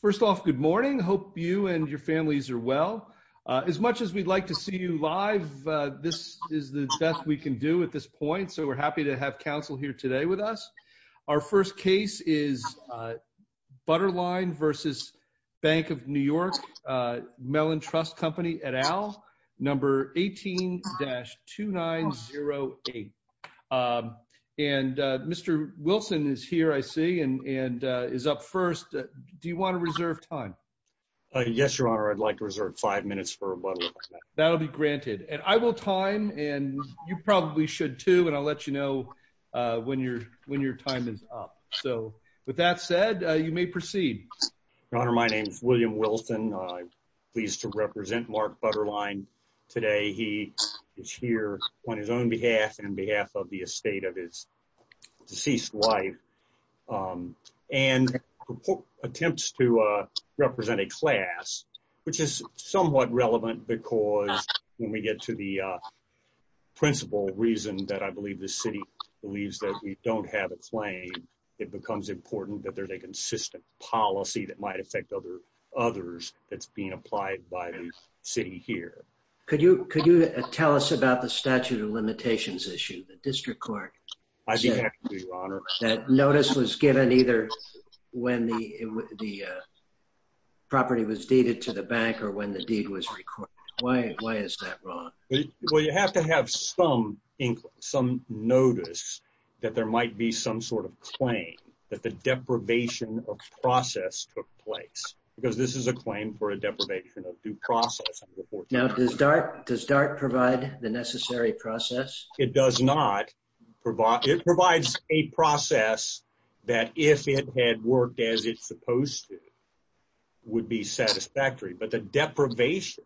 First off, good morning. Hope you and your families are well. As much as we'd like to see you live, this is the best we can do at this point, so we're happy to have counsel here today with us. Our first case is Butterline v. Bank of New York Mellon Trust Company et al., number 18-2908. And Mr. Wilson is here, I see, and is up first. Do you want to reserve time? Yes, Your Honor, I'd like to reserve five minutes for Butterline. That'll be granted. And I will time, and you probably should too, and I'll let you know when your time is up. So with that said, you may proceed. Your Honor, my name is William Wilson. I'm pleased to represent Mark Butterline today. He is here on his own behalf and on behalf of the estate of his deceased wife, and attempts to represent a class, which is somewhat relevant because when we get to the principal reason that I believe the city believes that we don't have a claim, it becomes important that there's a consistent policy that might affect others that's being applied by the city here. Could you tell us about the statute of limitations issue? The district court said that notice was given either when the property was deeded to the bank or when the deed was recorded. Why is that wrong? Well, you have to have some notice that there might be some sort of claim that the deprivation of process took place, because this is a claim for a deprivation of due process. Now does DART provide the necessary process? It does not. It provides a process that if it had worked as it's supposed to would be satisfactory, but the deprivation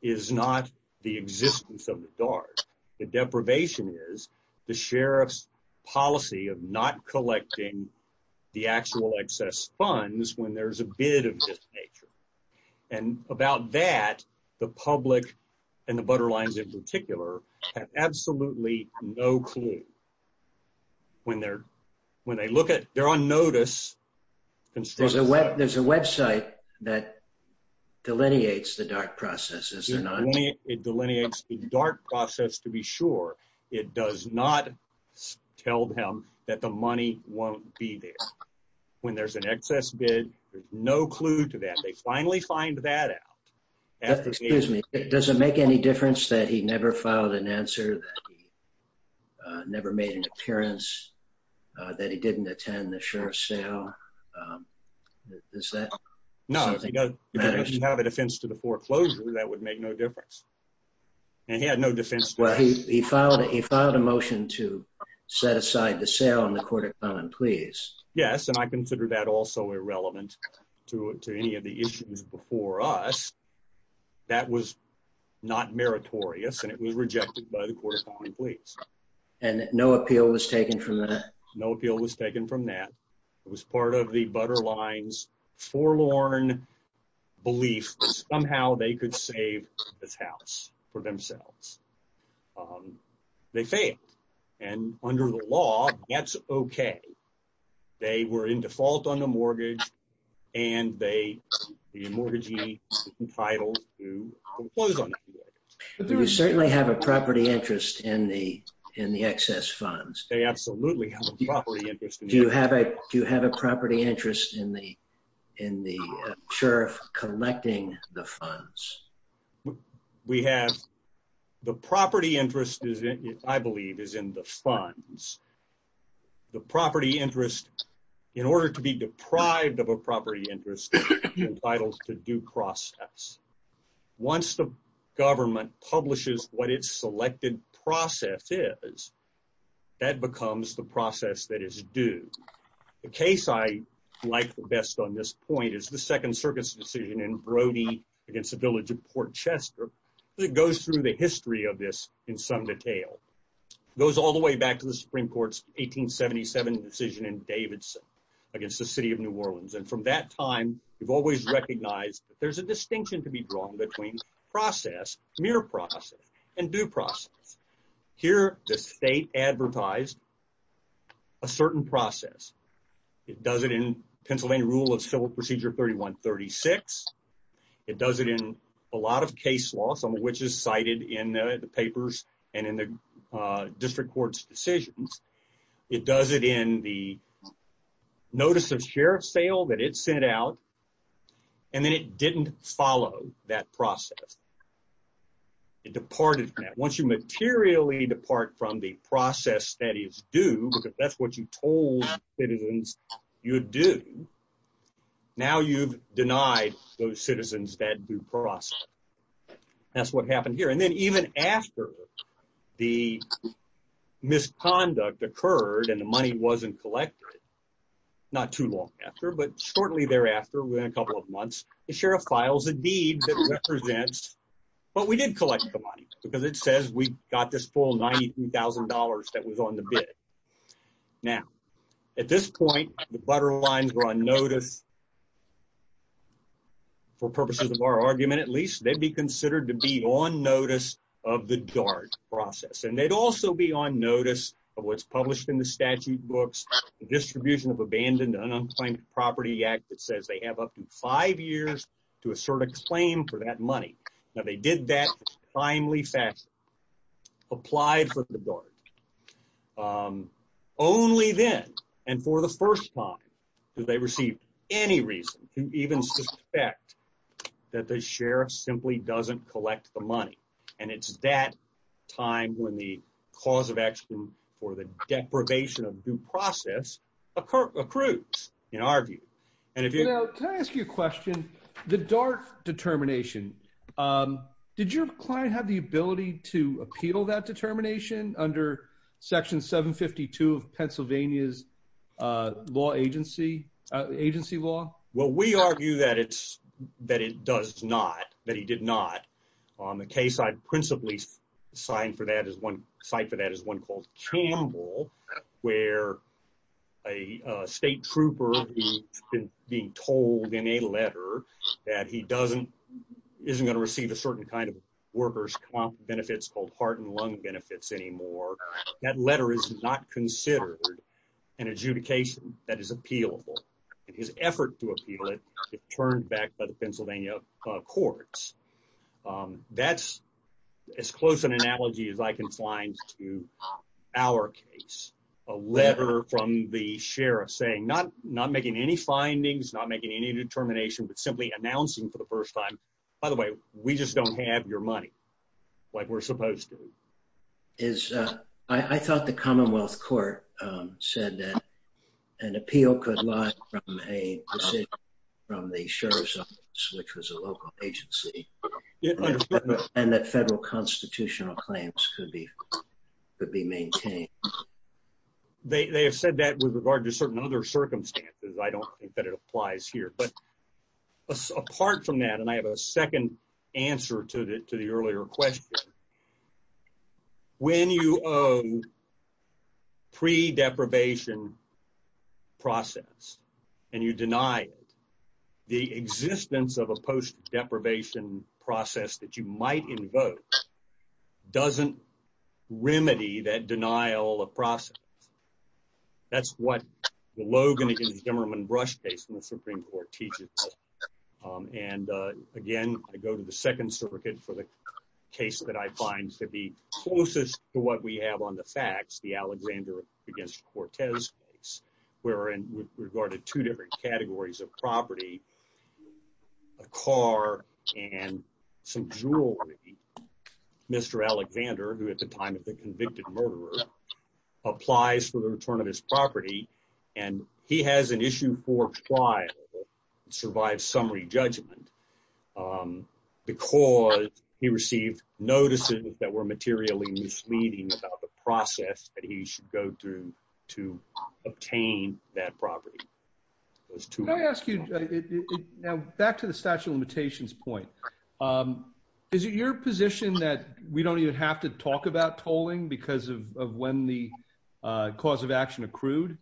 is not the existence of the DART. The deprivation is the sheriff's policy of not collecting the actual excess funds when there's a bid of this nature, and about that the public and the Butterlines in particular have absolutely no clue. When they're on notice, there's a website that delineates the DART process. It delineates the DART process to be sure. It does not tell them that the money won't be there. When there's an excess bid, there's no clue to that. They finally find that out. Does it make any difference that he never filed an answer, that he never made an appearance, that he didn't attend the sheriff's sale? No. If you have a defense to the foreclosure, that would make no difference, and he had no defense. Well, he filed a motion to set aside the sale on the court of common pleas. Yes, and I consider that also irrelevant to any of the issues before us. That was not meritorious, and it was rejected by the court of common pleas. And no appeal was taken from that? No appeal was taken from that. It was part of the Butterlines' forlorn belief that somehow they could save this house for themselves. They failed, and under the law, that's okay. They were in default on the mortgage, and the mortgagee is entitled to in the excess funds. They absolutely have a property interest. Do you have a property interest in the sheriff collecting the funds? The property interest, I believe, is in the funds. The property interest, in order to be deprived of a property interest, is entitled to due process. Once the government publishes what its selected process is, that becomes the process that is due. The case I like the best on this point is the Second Circuit's decision in Brody against the village of Port Chester. It goes through the history of this in some detail. It goes all the way back to the Supreme Court's 1877 decision in Davidson against the city of between mere process and due process. Here, the state advertised a certain process. It does it in Pennsylvania Rule of Civil Procedure 3136. It does it in a lot of case law, some of which is cited in the papers and in the district court's decisions. It does it in the that process. It departed from that. Once you materially depart from the process that is due, because that's what you told citizens you do, now you've denied those citizens that due process. That's what happened here. And then even after the misconduct occurred and the money wasn't collected, not too long after, but shortly thereafter, within a couple of months, the sheriff files a deed that represents, well, we did collect the money because it says we got this full $93,000 that was on the bid. Now, at this point, the butter lines were on notice. For purposes of our argument, at least, they'd be considered to be on notice of the DART process. And they'd also be on notice of what's published in the statute books, the Distribution of Abandoned and Unclaimed Property Act that says they have up to five years to assert a claim for that money. Now, they did that timely, fast, applied for the DART. Only then, and for the first time, did they receive any reason to even suspect that the sheriff simply doesn't collect the money. And it's that time when the cause of action for deprivation of due process accrues, in our view. Now, can I ask you a question? The DART determination, did your client have the ability to appeal that determination under Section 752 of Pennsylvania's agency law? Well, we argue that it does not, that he did not. On the case I principally cite for that is one called Campbell, where a state trooper is being told in a letter that he doesn't, isn't going to receive a certain kind of workers' comp benefits called heart and lung benefits anymore. That letter is not considered an adjudication that is appealable. His effort to appeal it, it turned back by the Pennsylvania courts. That's as close an analogy as I can find to our case. A letter from the sheriff saying not making any findings, not making any determination, but simply announcing for the first time, by the way, we just don't have your money like we're supposed to. I thought the Commonwealth Court said that appeal could lie from a decision from the sheriff's office, which was a local agency, and that federal constitutional claims could be maintained. They have said that with regard to certain other circumstances. I don't think that it applies here. But apart from that, and I have a process, and you deny it, the existence of a post-deprivation process that you might invoke doesn't remedy that denial of process. That's what the Logan and Himmerman Brush case in the Supreme Court teaches. And again, I go to the Second Circuit for the case that I find to be closest to what we have on the facts, the Alexander against Cortez case, where in regard to two different categories of property, a car and some jewelry, Mr. Alexander, who at the time of the convicted murderer, applies for the return of his property, and he has an issue for trial, survives summary judgment, because he received notices that were materially misleading about the process that he should go through to obtain that property. Back to the statute of limitations point. Is it your position that we don't even have to talk about tolling because of when the action accrued?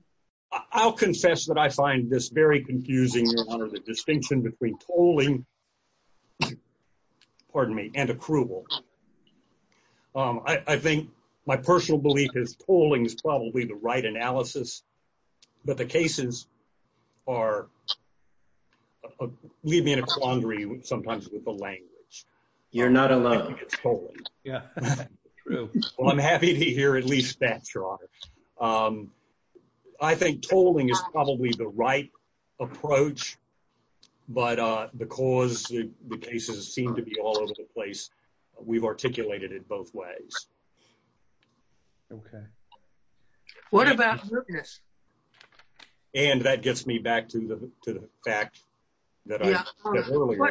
I'll confess that I find this very confusing, Your Honor, the distinction between tolling, pardon me, and accrual. I think my personal belief is tolling is probably the right analysis, but the cases are, leave me in a quandary sometimes with the language. You're not alone. Yeah, true. I'm happy to hear at least that, Your Honor. I think tolling is probably the right approach, but because the cases seem to be all over the place, we've articulated it both ways. Okay. What about mootness? And that gets me back to the fact that I said earlier.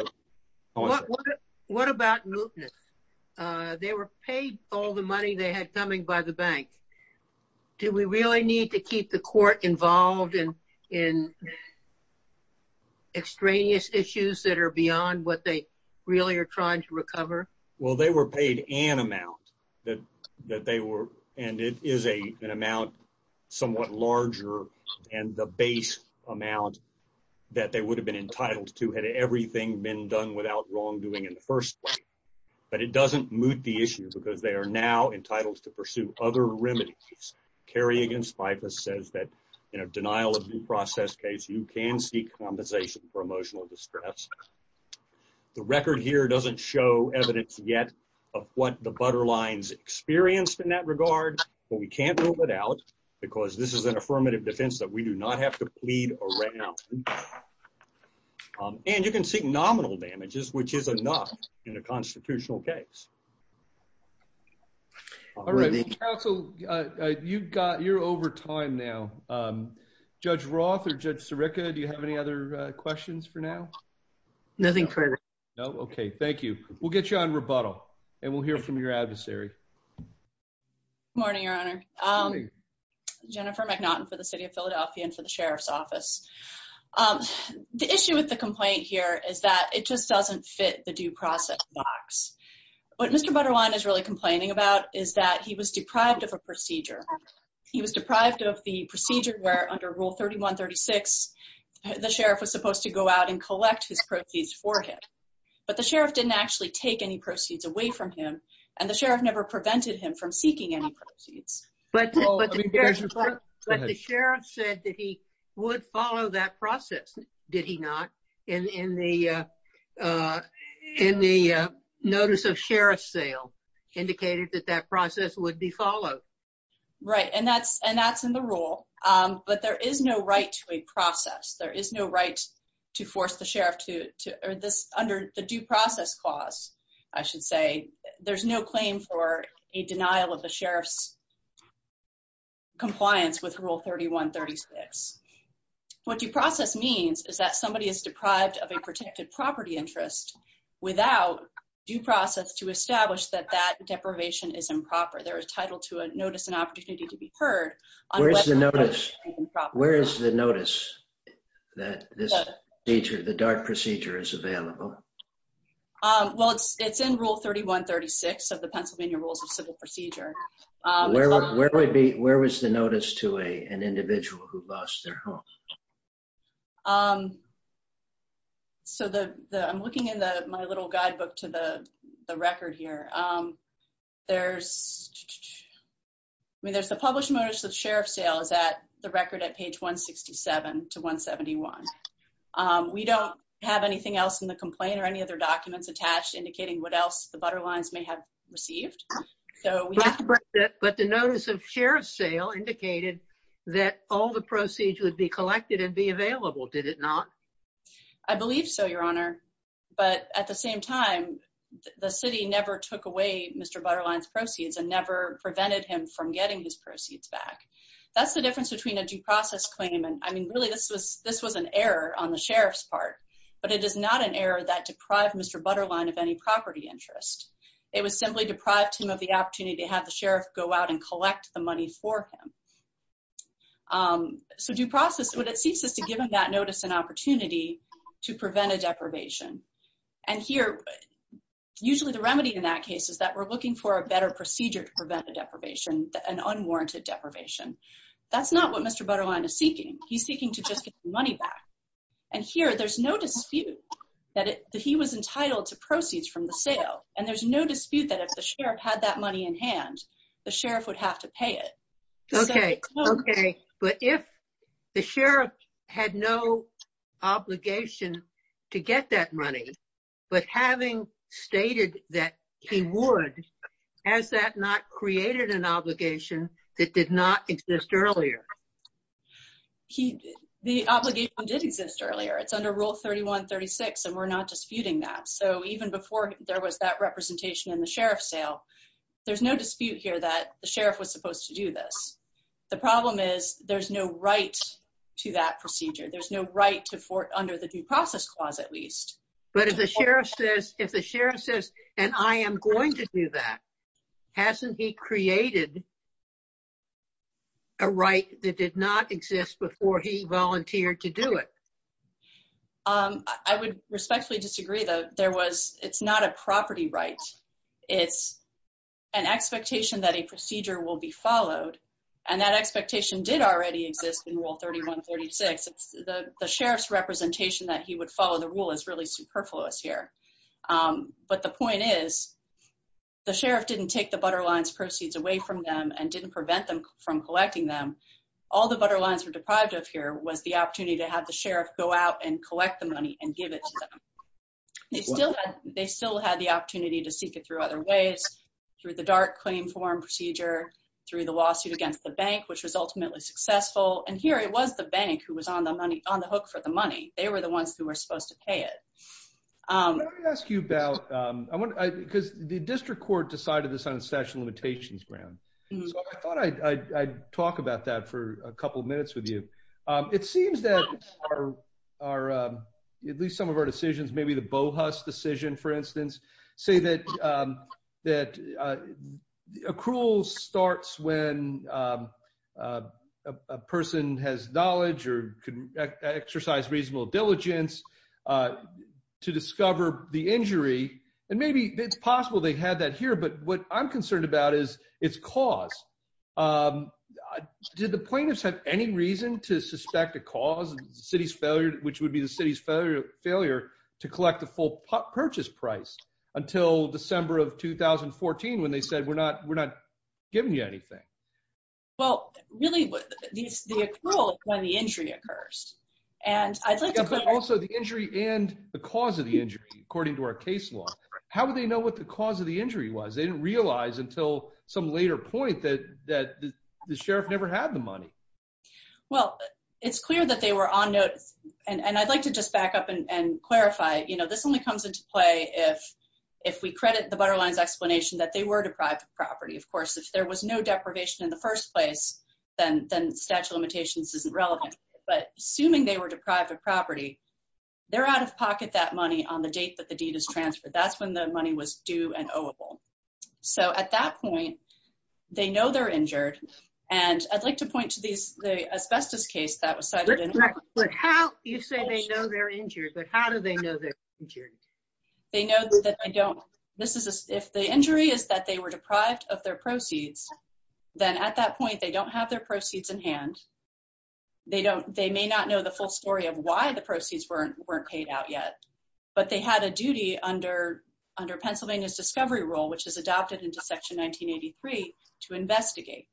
What about mootness? They were paid all the money they had coming by the bank. Do we really need to keep the court involved in extraneous issues that are beyond what they really are trying to recover? Well, they were paid an amount that they were, and it is an amount somewhat larger and the base amount that they would have been entitled to had everything been done without wrongdoing in the first place. But it doesn't moot the issue because they are now carrying against FIFAS says that in a denial of due process case, you can seek compensation for emotional distress. The record here doesn't show evidence yet of what the butter lines experienced in that regard, but we can't rule it out because this is an affirmative defense that we do not have to plead around. And you can seek nominal damages, which is enough in a constitutional case. All right. So you've got you're over time now. Judge Roth or Judge Sirica. Do you have any other questions for now? Nothing further. No. Okay. Thank you. We'll get you on rebuttal and we'll hear from your adversary. Morning, Your Honor. Jennifer McNaughton for the City of Philadelphia and for the Sheriff's Office. The issue with the complaint here is that it just fit the due process box. What Mr. Butterline is really complaining about is that he was deprived of a procedure. He was deprived of the procedure where under Rule 3136, the sheriff was supposed to go out and collect his proceeds for him. But the sheriff didn't actually take any proceeds away from him. And the sheriff never prevented him from seeking any proceeds. But the sheriff said that he would follow that process. Did he not in the in the notice of sheriff sale indicated that that process would be followed? Right. And that's and that's in the rule. But there is no right to a process. There is no right to force the sheriff to this under the due process clause. I should say there's no claim for a denial of the sheriff's compliance with Rule 3136. What due process means is that somebody is deprived of a protected property interest without due process to establish that that deprivation is improper. There is title to a notice and opportunity to be heard. Where's the notice? Where is the notice that this feature the dark procedure is available? Well, it's it's in Rule 3136 of the Pennsylvania Rules of Civil Procedure. Where would be where was the notice to a an individual who lost their home? So the I'm looking in the my little guidebook to the record here. There's I mean, there's a published notice of sheriff sales at the record at page 167 to 171. We don't have anything else in the complaint or any other documents attached indicating what else the butter lines may have received. So we have to break that. But the notice of sheriff sale indicated that all the proceeds would be collected and be available. Did it not? I believe so, your honor. But at the same time, the city never took away Mr. Butter lines proceeds and never prevented him from getting his proceeds back. That's the difference between a due process claim. And I mean, really, this was this was an error on the sheriff's part. But it is not an error that deprived Mr. Butter line of any property interest. It was simply deprived him the opportunity to have the sheriff go out and collect the money for him. So due process, what it seeks is to give him that notice an opportunity to prevent a deprivation. And here, usually the remedy in that case is that we're looking for a better procedure to prevent a deprivation, an unwarranted deprivation. That's not what Mr. Butter line is seeking. He's seeking to just get money back. And here, there's no dispute that he was entitled to proceeds from the sale. And there's no dispute that if the sheriff had that money in hand, the sheriff would have to pay it. Okay. Okay. But if the sheriff had no obligation to get that money, but having stated that he would, has that not created an obligation that did not exist earlier? The obligation did exist earlier. It's under Rule 3136. And we're not disputing that. So even before there was that representation in the sheriff sale, there's no dispute here that the sheriff was supposed to do this. The problem is there's no right to that procedure. There's no right to under the due process clause at least. But if the sheriff says, and I am going to do that, hasn't he created a right that did not exist before he volunteered to do it? I would respectfully disagree though. It's not a property right. It's an expectation that a procedure will be followed. And that expectation did already exist in Rule 3136. The sheriff's representation that he would follow the rule is really superfluous here. But the point is, the sheriff didn't take the Butter lines proceeds away from them and didn't prevent them from collecting them. All the Butter lines were deprived of here was the opportunity to have the collect the money and give it to them. They still had the opportunity to seek it through other ways, through the dark claim form procedure, through the lawsuit against the bank, which was ultimately successful. And here it was the bank who was on the money, on the hook for the money. They were the ones who were supposed to pay it. Let me ask you about, because the district court decided this on a statute of limitations ground. So I thought I'd talk about that for a couple of our, at least some of our decisions, maybe the Bohus decision, for instance, say that accrual starts when a person has knowledge or can exercise reasonable diligence to discover the injury. And maybe it's possible they had that here, but what I'm concerned about is its cause. Did the plaintiffs have any reason to suspect a cause of the city's failure, which would be the city's failure to collect the full purchase price until December of 2014, when they said, we're not giving you anything? Well, really the accrual is when the injury occurs. But also the injury and the cause of the injury, according to our case law, how would they know what the cause of the injury was? They didn't realize until some later point that the sheriff never had the money. Well, it's clear that they were on notice. And I'd like to just back up and clarify, this only comes into play if we credit the Butterline's explanation that they were deprived of property. Of course, if there was no deprivation in the first place, then statute of limitations isn't relevant. But assuming they were deprived of property, they're out of pocket that money on the date that the deed is transferred. That's when the money was due and oweable. So at that point, they know they're injured. And I'd like to point to the asbestos case that was cited. But how do you say they know they're injured? But how do they know they're injured? They know that they don't. If the injury is that they were deprived of their proceeds, then at that point, they don't have their proceeds in hand. They may not know the full story of why the proceeds weren't weren't paid out yet. But they had a duty under Pennsylvania's discovery rule, which is adopted into Section 1983, to investigate.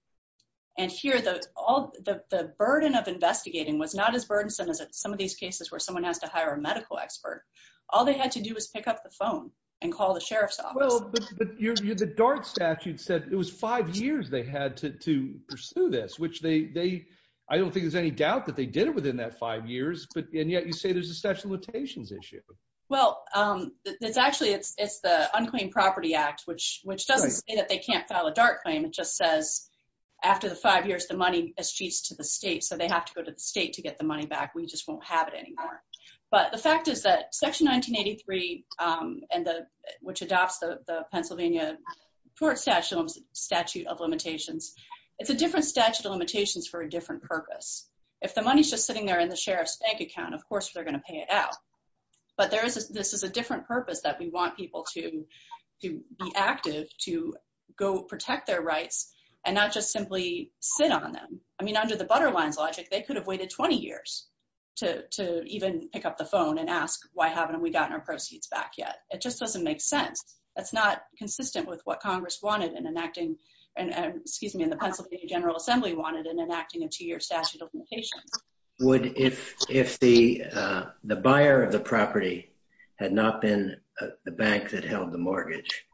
And here, the burden of investigating was not as burdensome as some of these cases where someone has to hire a medical expert. All they had to do was pick up the phone and call the sheriff's office. But the Dart statute said it was five years they had to pursue this, which I don't think there's any doubt that they did it within that five years. And yet, you say there's a statute of limitations issue. Well, it's actually the Unclaimed Property Act, which doesn't say that they can't file a Dart claim. It just says, after the five years, the money eschews to the state. So they have to go to the state to get the money back. We just won't have it anymore. But the fact is that Section 1983, which adopts the Pennsylvania Court Statute of Limitations, it's a different statute of limitations for a different purpose. If the money is just sitting there in the sheriff's bank account, of course, they're going to pay it out. But this is a different purpose that we want people to be active, to go protect their rights, and not just simply sit on them. I mean, under the butter lines logic, they could have waited 20 years to even pick up the phone and ask, why haven't we gotten our proceeds back yet? It just doesn't make sense. That's not consistent with what Congress wanted in enacting and, excuse me, the Pennsylvania General Assembly wanted in enacting a two-year statute of limitations. Would, if the buyer of the property had not been the bank that held the mortgage,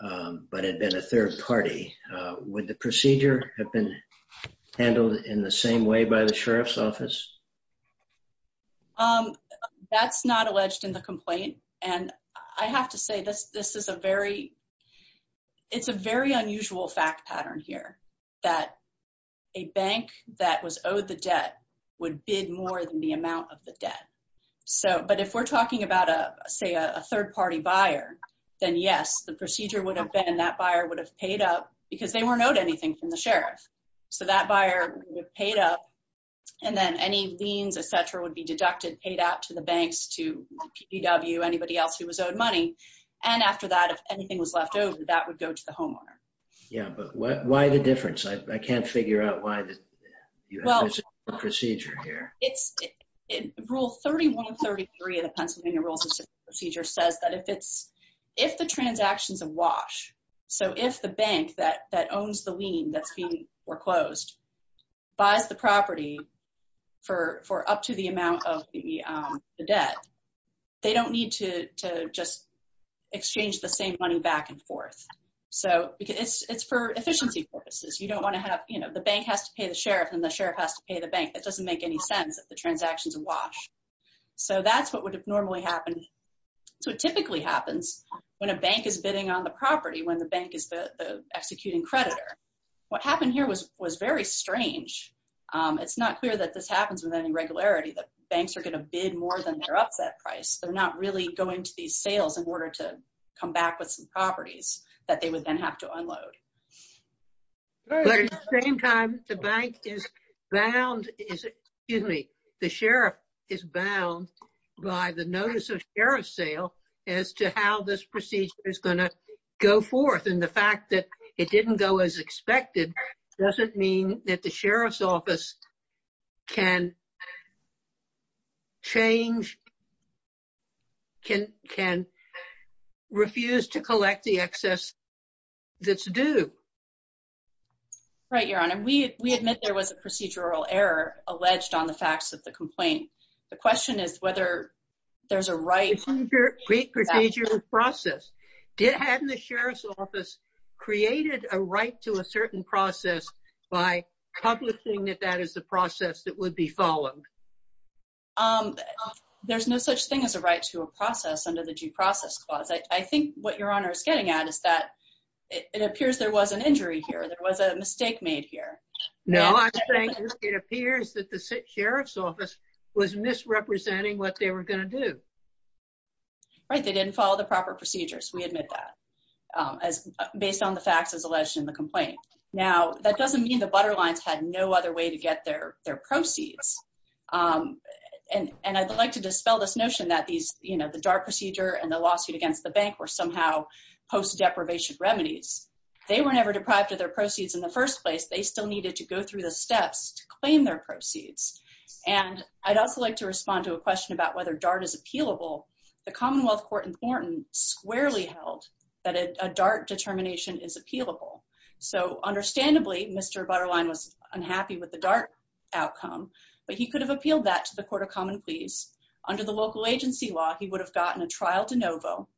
but had been a third party, would the procedure have been handled in the same way by the sheriff's office? That's not alleged in the complaint. And I have to say, this is a very, it's a very unusual fact pattern here, that a bank that was owed the debt would bid more than the amount of the debt. So, but if we're talking about a, say, a third party buyer, then yes, the procedure would have been, that buyer would have paid up because they weren't owed anything from the sheriff. So that buyer would have paid up, and then any liens, et cetera, would be deducted, paid out to the banks, to PDW, anybody else who was owed money. And after that, if that was left over, that would go to the homeowner. Yeah, but why the difference? I can't figure out why the procedure here. It's rule 3133 of the Pennsylvania Rules of Procedure says that if it's, if the transaction's a wash, so if the bank that owns the lien that's being foreclosed buys the property for up to the amount of the debt, they don't need to just exchange the same money back and forth. So it's, it's for efficiency purposes. You don't want to have, you know, the bank has to pay the sheriff and the sheriff has to pay the bank. That doesn't make any sense if the transaction's a wash. So that's what would have normally happened. So it typically happens when a bank is bidding on the property, when the bank is the, the executing creditor. What happened here was, was very strange. It's not clear that this happens with any regularity, that banks are going to bid more than their upset price. They're not really going to these sales in order to come back with some properties that they would then have to unload. But at the same time, the bank is bound, excuse me, the sheriff is bound by the notice of sheriff sale as to how this procedure is going to go forth. And the fact that it didn't go as expected doesn't mean that the sheriff's office can change, can refuse to collect the excess that's due. Right, Your Honor. We admit there was a procedural error alleged on the facts of the complaint. The question is whether there's a right... Procedural process. Hadn't the sheriff's office created a right to a certain process by publishing that that is the process that would be followed? There's no such thing as a right to a process under the due process clause. I think what Your Honor is getting at is that it appears there was an injury here. There was a mistake made here. No, I think it appears that the sheriff's office was misrepresenting what they were going to do. Right, they didn't follow the proper procedures. We admit that, as based on the facts as alleged in the complaint. Now, that doesn't mean the butter lines had no other way to get their proceeds. And I'd like to dispel this notion that the DART procedure and the lawsuit against the bank were somehow post-deprivation remedies. They were never deprived of their proceeds in the first place. They still needed to go through the steps to claim their proceeds. And I'd also like to respond to a question about whether DART is appealable. The Commonwealth Court in Thornton squarely held that a DART determination is appealable. So understandably, Mr. Butterline was unhappy with the DART outcome, but he could have appealed that to the Court of Common Pleas. Under the local agency law, he would have gotten a trial de novo.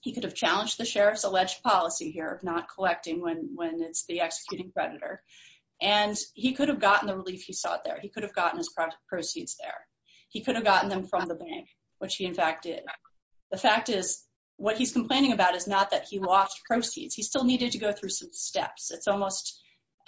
He could have challenged the sheriff's alleged policy here of not collecting when it's the executing predator. And he could have gotten the relief he sought there. He could have gotten proceeds there. He could have gotten them from the bank, which he in fact did. The fact is, what he's complaining about is not that he lost proceeds. He still needed to go through some steps. It's almost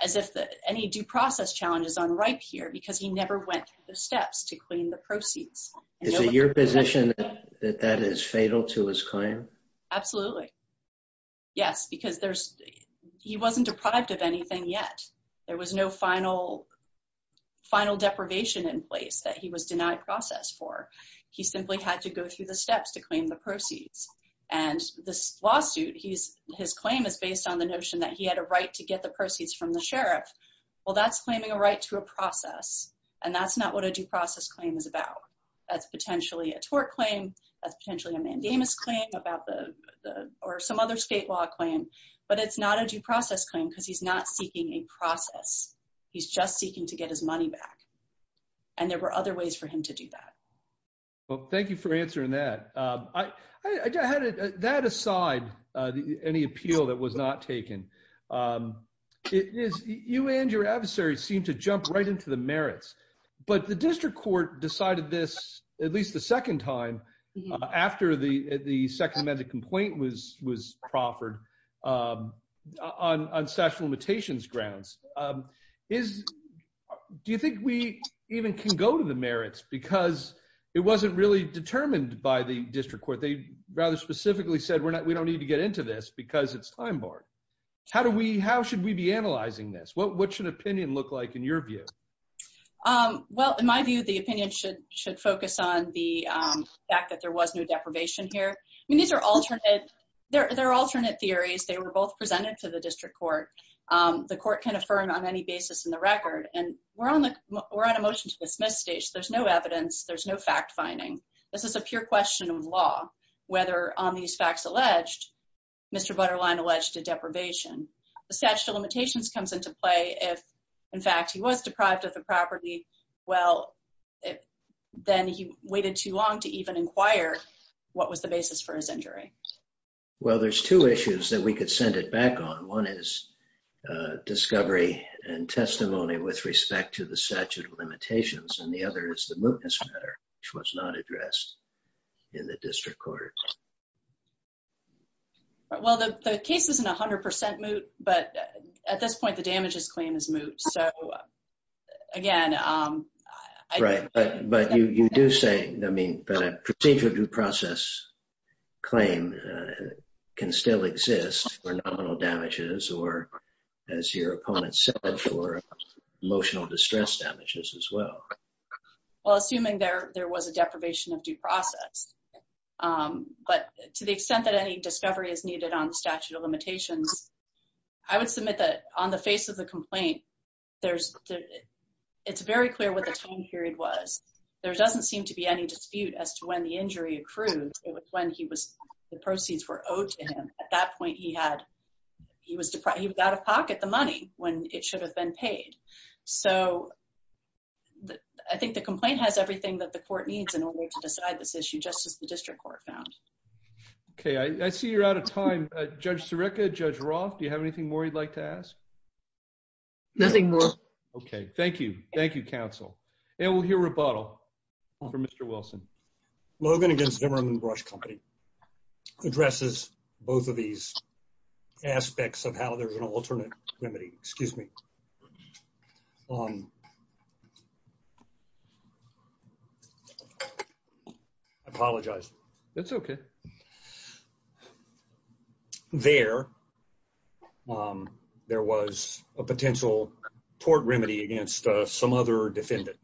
as if any due process challenge is unripe here because he never went through the steps to claim the proceeds. Is it your position that that is fatal to his claim? Absolutely. Yes, because he wasn't deprived of anything yet. There was no final deprivation in place that he was denied process for. He simply had to go through the steps to claim the proceeds. And this lawsuit, his claim is based on the notion that he had a right to get the proceeds from the sheriff. Well, that's claiming a right to a process. And that's not what a due process claim is about. That's potentially a tort claim. That's potentially a mandamus claim about the or some other state law claim. But it's not a due process claim because he's not seeking a process. He's just seeking to get his money back. And there were other ways for him to do that. Well, thank you for answering that. I had that aside, any appeal that was not taken. It is you and your adversaries seem to jump right into the merits. But the district court decided this at least the second time after the second amended complaint was was proffered on sexual limitations grounds. Is do you think we even can go to the merits because it wasn't really determined by the district court? They rather specifically said we're not we don't need to get into this because it's time borne. How do we how should we be analyzing this? What what should opinion look like in your view? Well, in my view, the opinion should should focus on the fact that there was no deprivation here. I mean, these are alternate. They're alternate theories. They were both presented to the district court. The court can affirm on any basis in the record and we're on the we're on a motion to dismiss stage. There's no evidence. There's no fact finding. This is a pure question of law, whether on these facts alleged, Mr. Butterline alleged to deprivation, the statute of limitations comes into play if, in fact, he was deprived of the property. Well, then he waited too long to even inquire what was the basis for his injury. Well, there's two issues that we could send it back on. One is discovery and testimony with respect to the statute of limitations. And the other is the mootness matter, which was not addressed in the district court. Well, the case isn't 100 percent moot, but at this point, the damages claim is moot. So again, right. But but you do say, I mean, the procedure due process claim can still exist for nominal damages or, as your opponent said, for emotional distress damages as well. Well, assuming there there was a deprivation of due process. But to the extent that any discovery is needed on the statute of limitations, I would submit that on the face of the complaint, there's it's very clear what the time period was. There doesn't seem to be any dispute as to when the injury accrued. It was when he was the proceeds were owed to him. At that point, he had he was he was out of pocket the money when it should have been paid. So I think the complaint has everything that the court needs in order to decide this issue, just as the district court found. OK, I see you're out of time. Judge Sirica, Judge Roth, do you have anything more you'd like to ask? Nothing more. OK, thank you. Thank you, counsel. And we'll hear rebuttal for Mr. Wilson. Logan against Vimmerman Brush Company addresses both of these aspects of how there's an alternate remedy. Excuse me. I apologize. That's OK. There, there was a potential tort remedy against some other defendant.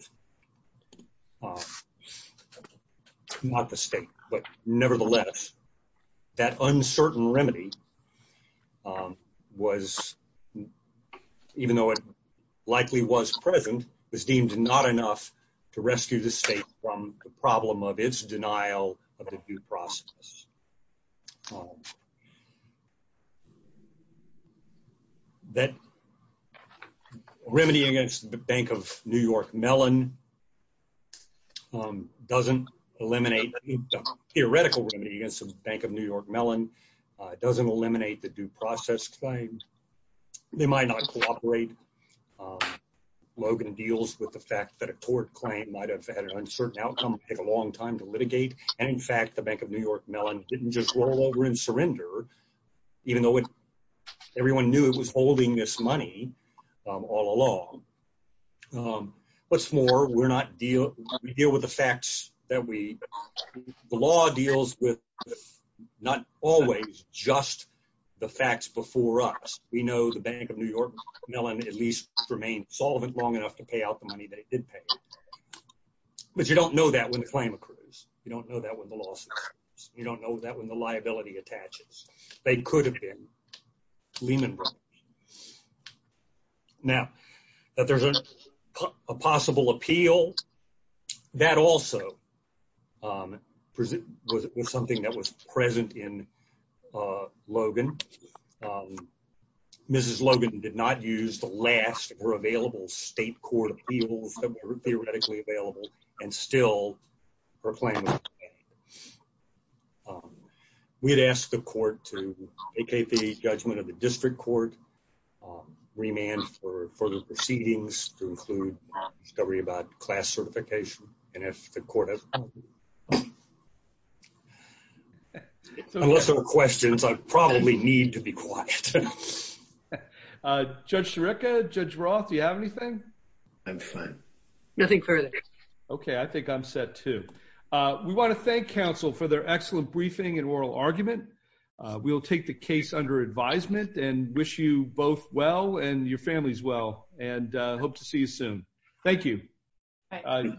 Not the state, but nevertheless, that uncertain remedy was, even though it likely was present, was deemed not enough to rescue the state from the problem of its denial of the due process. That remedy against the Bank of New York Mellon doesn't eliminate the theoretical remedy against the Bank of New York Mellon. It doesn't eliminate the due process claim. They might not cooperate. Logan deals with the fact that a tort claim might have had an uncertain outcome, take a long time to litigate. And in New York, Mellon didn't just roll over and surrender, even though everyone knew it was holding this money all along. What's more, we deal with the facts that we, the law deals with not always just the facts before us. We know the Bank of New York Mellon at least remained solvent long enough to pay out the money they did pay. But you don't know that when the claim occurs. You don't know that when the lawsuit occurs. You don't know that when the liability attaches. They could have been Lehman Brothers. Now, that there's a possible appeal, that also was something that was present in Logan. Mrs. Logan did not use the last or available state court appeals that were theoretically available and still proclaimed. We had asked the court to take the judgment of the district court, remand for further proceedings to include discovery about class certification. And if the court has unless there were questions, I probably need to be quiet. I'm fine. Nothing further. Okay, I think I'm set too. We want to thank counsel for their excellent briefing and oral argument. We will take the case under advisement and wish you both well and your families well and hope to see you soon. Thank you.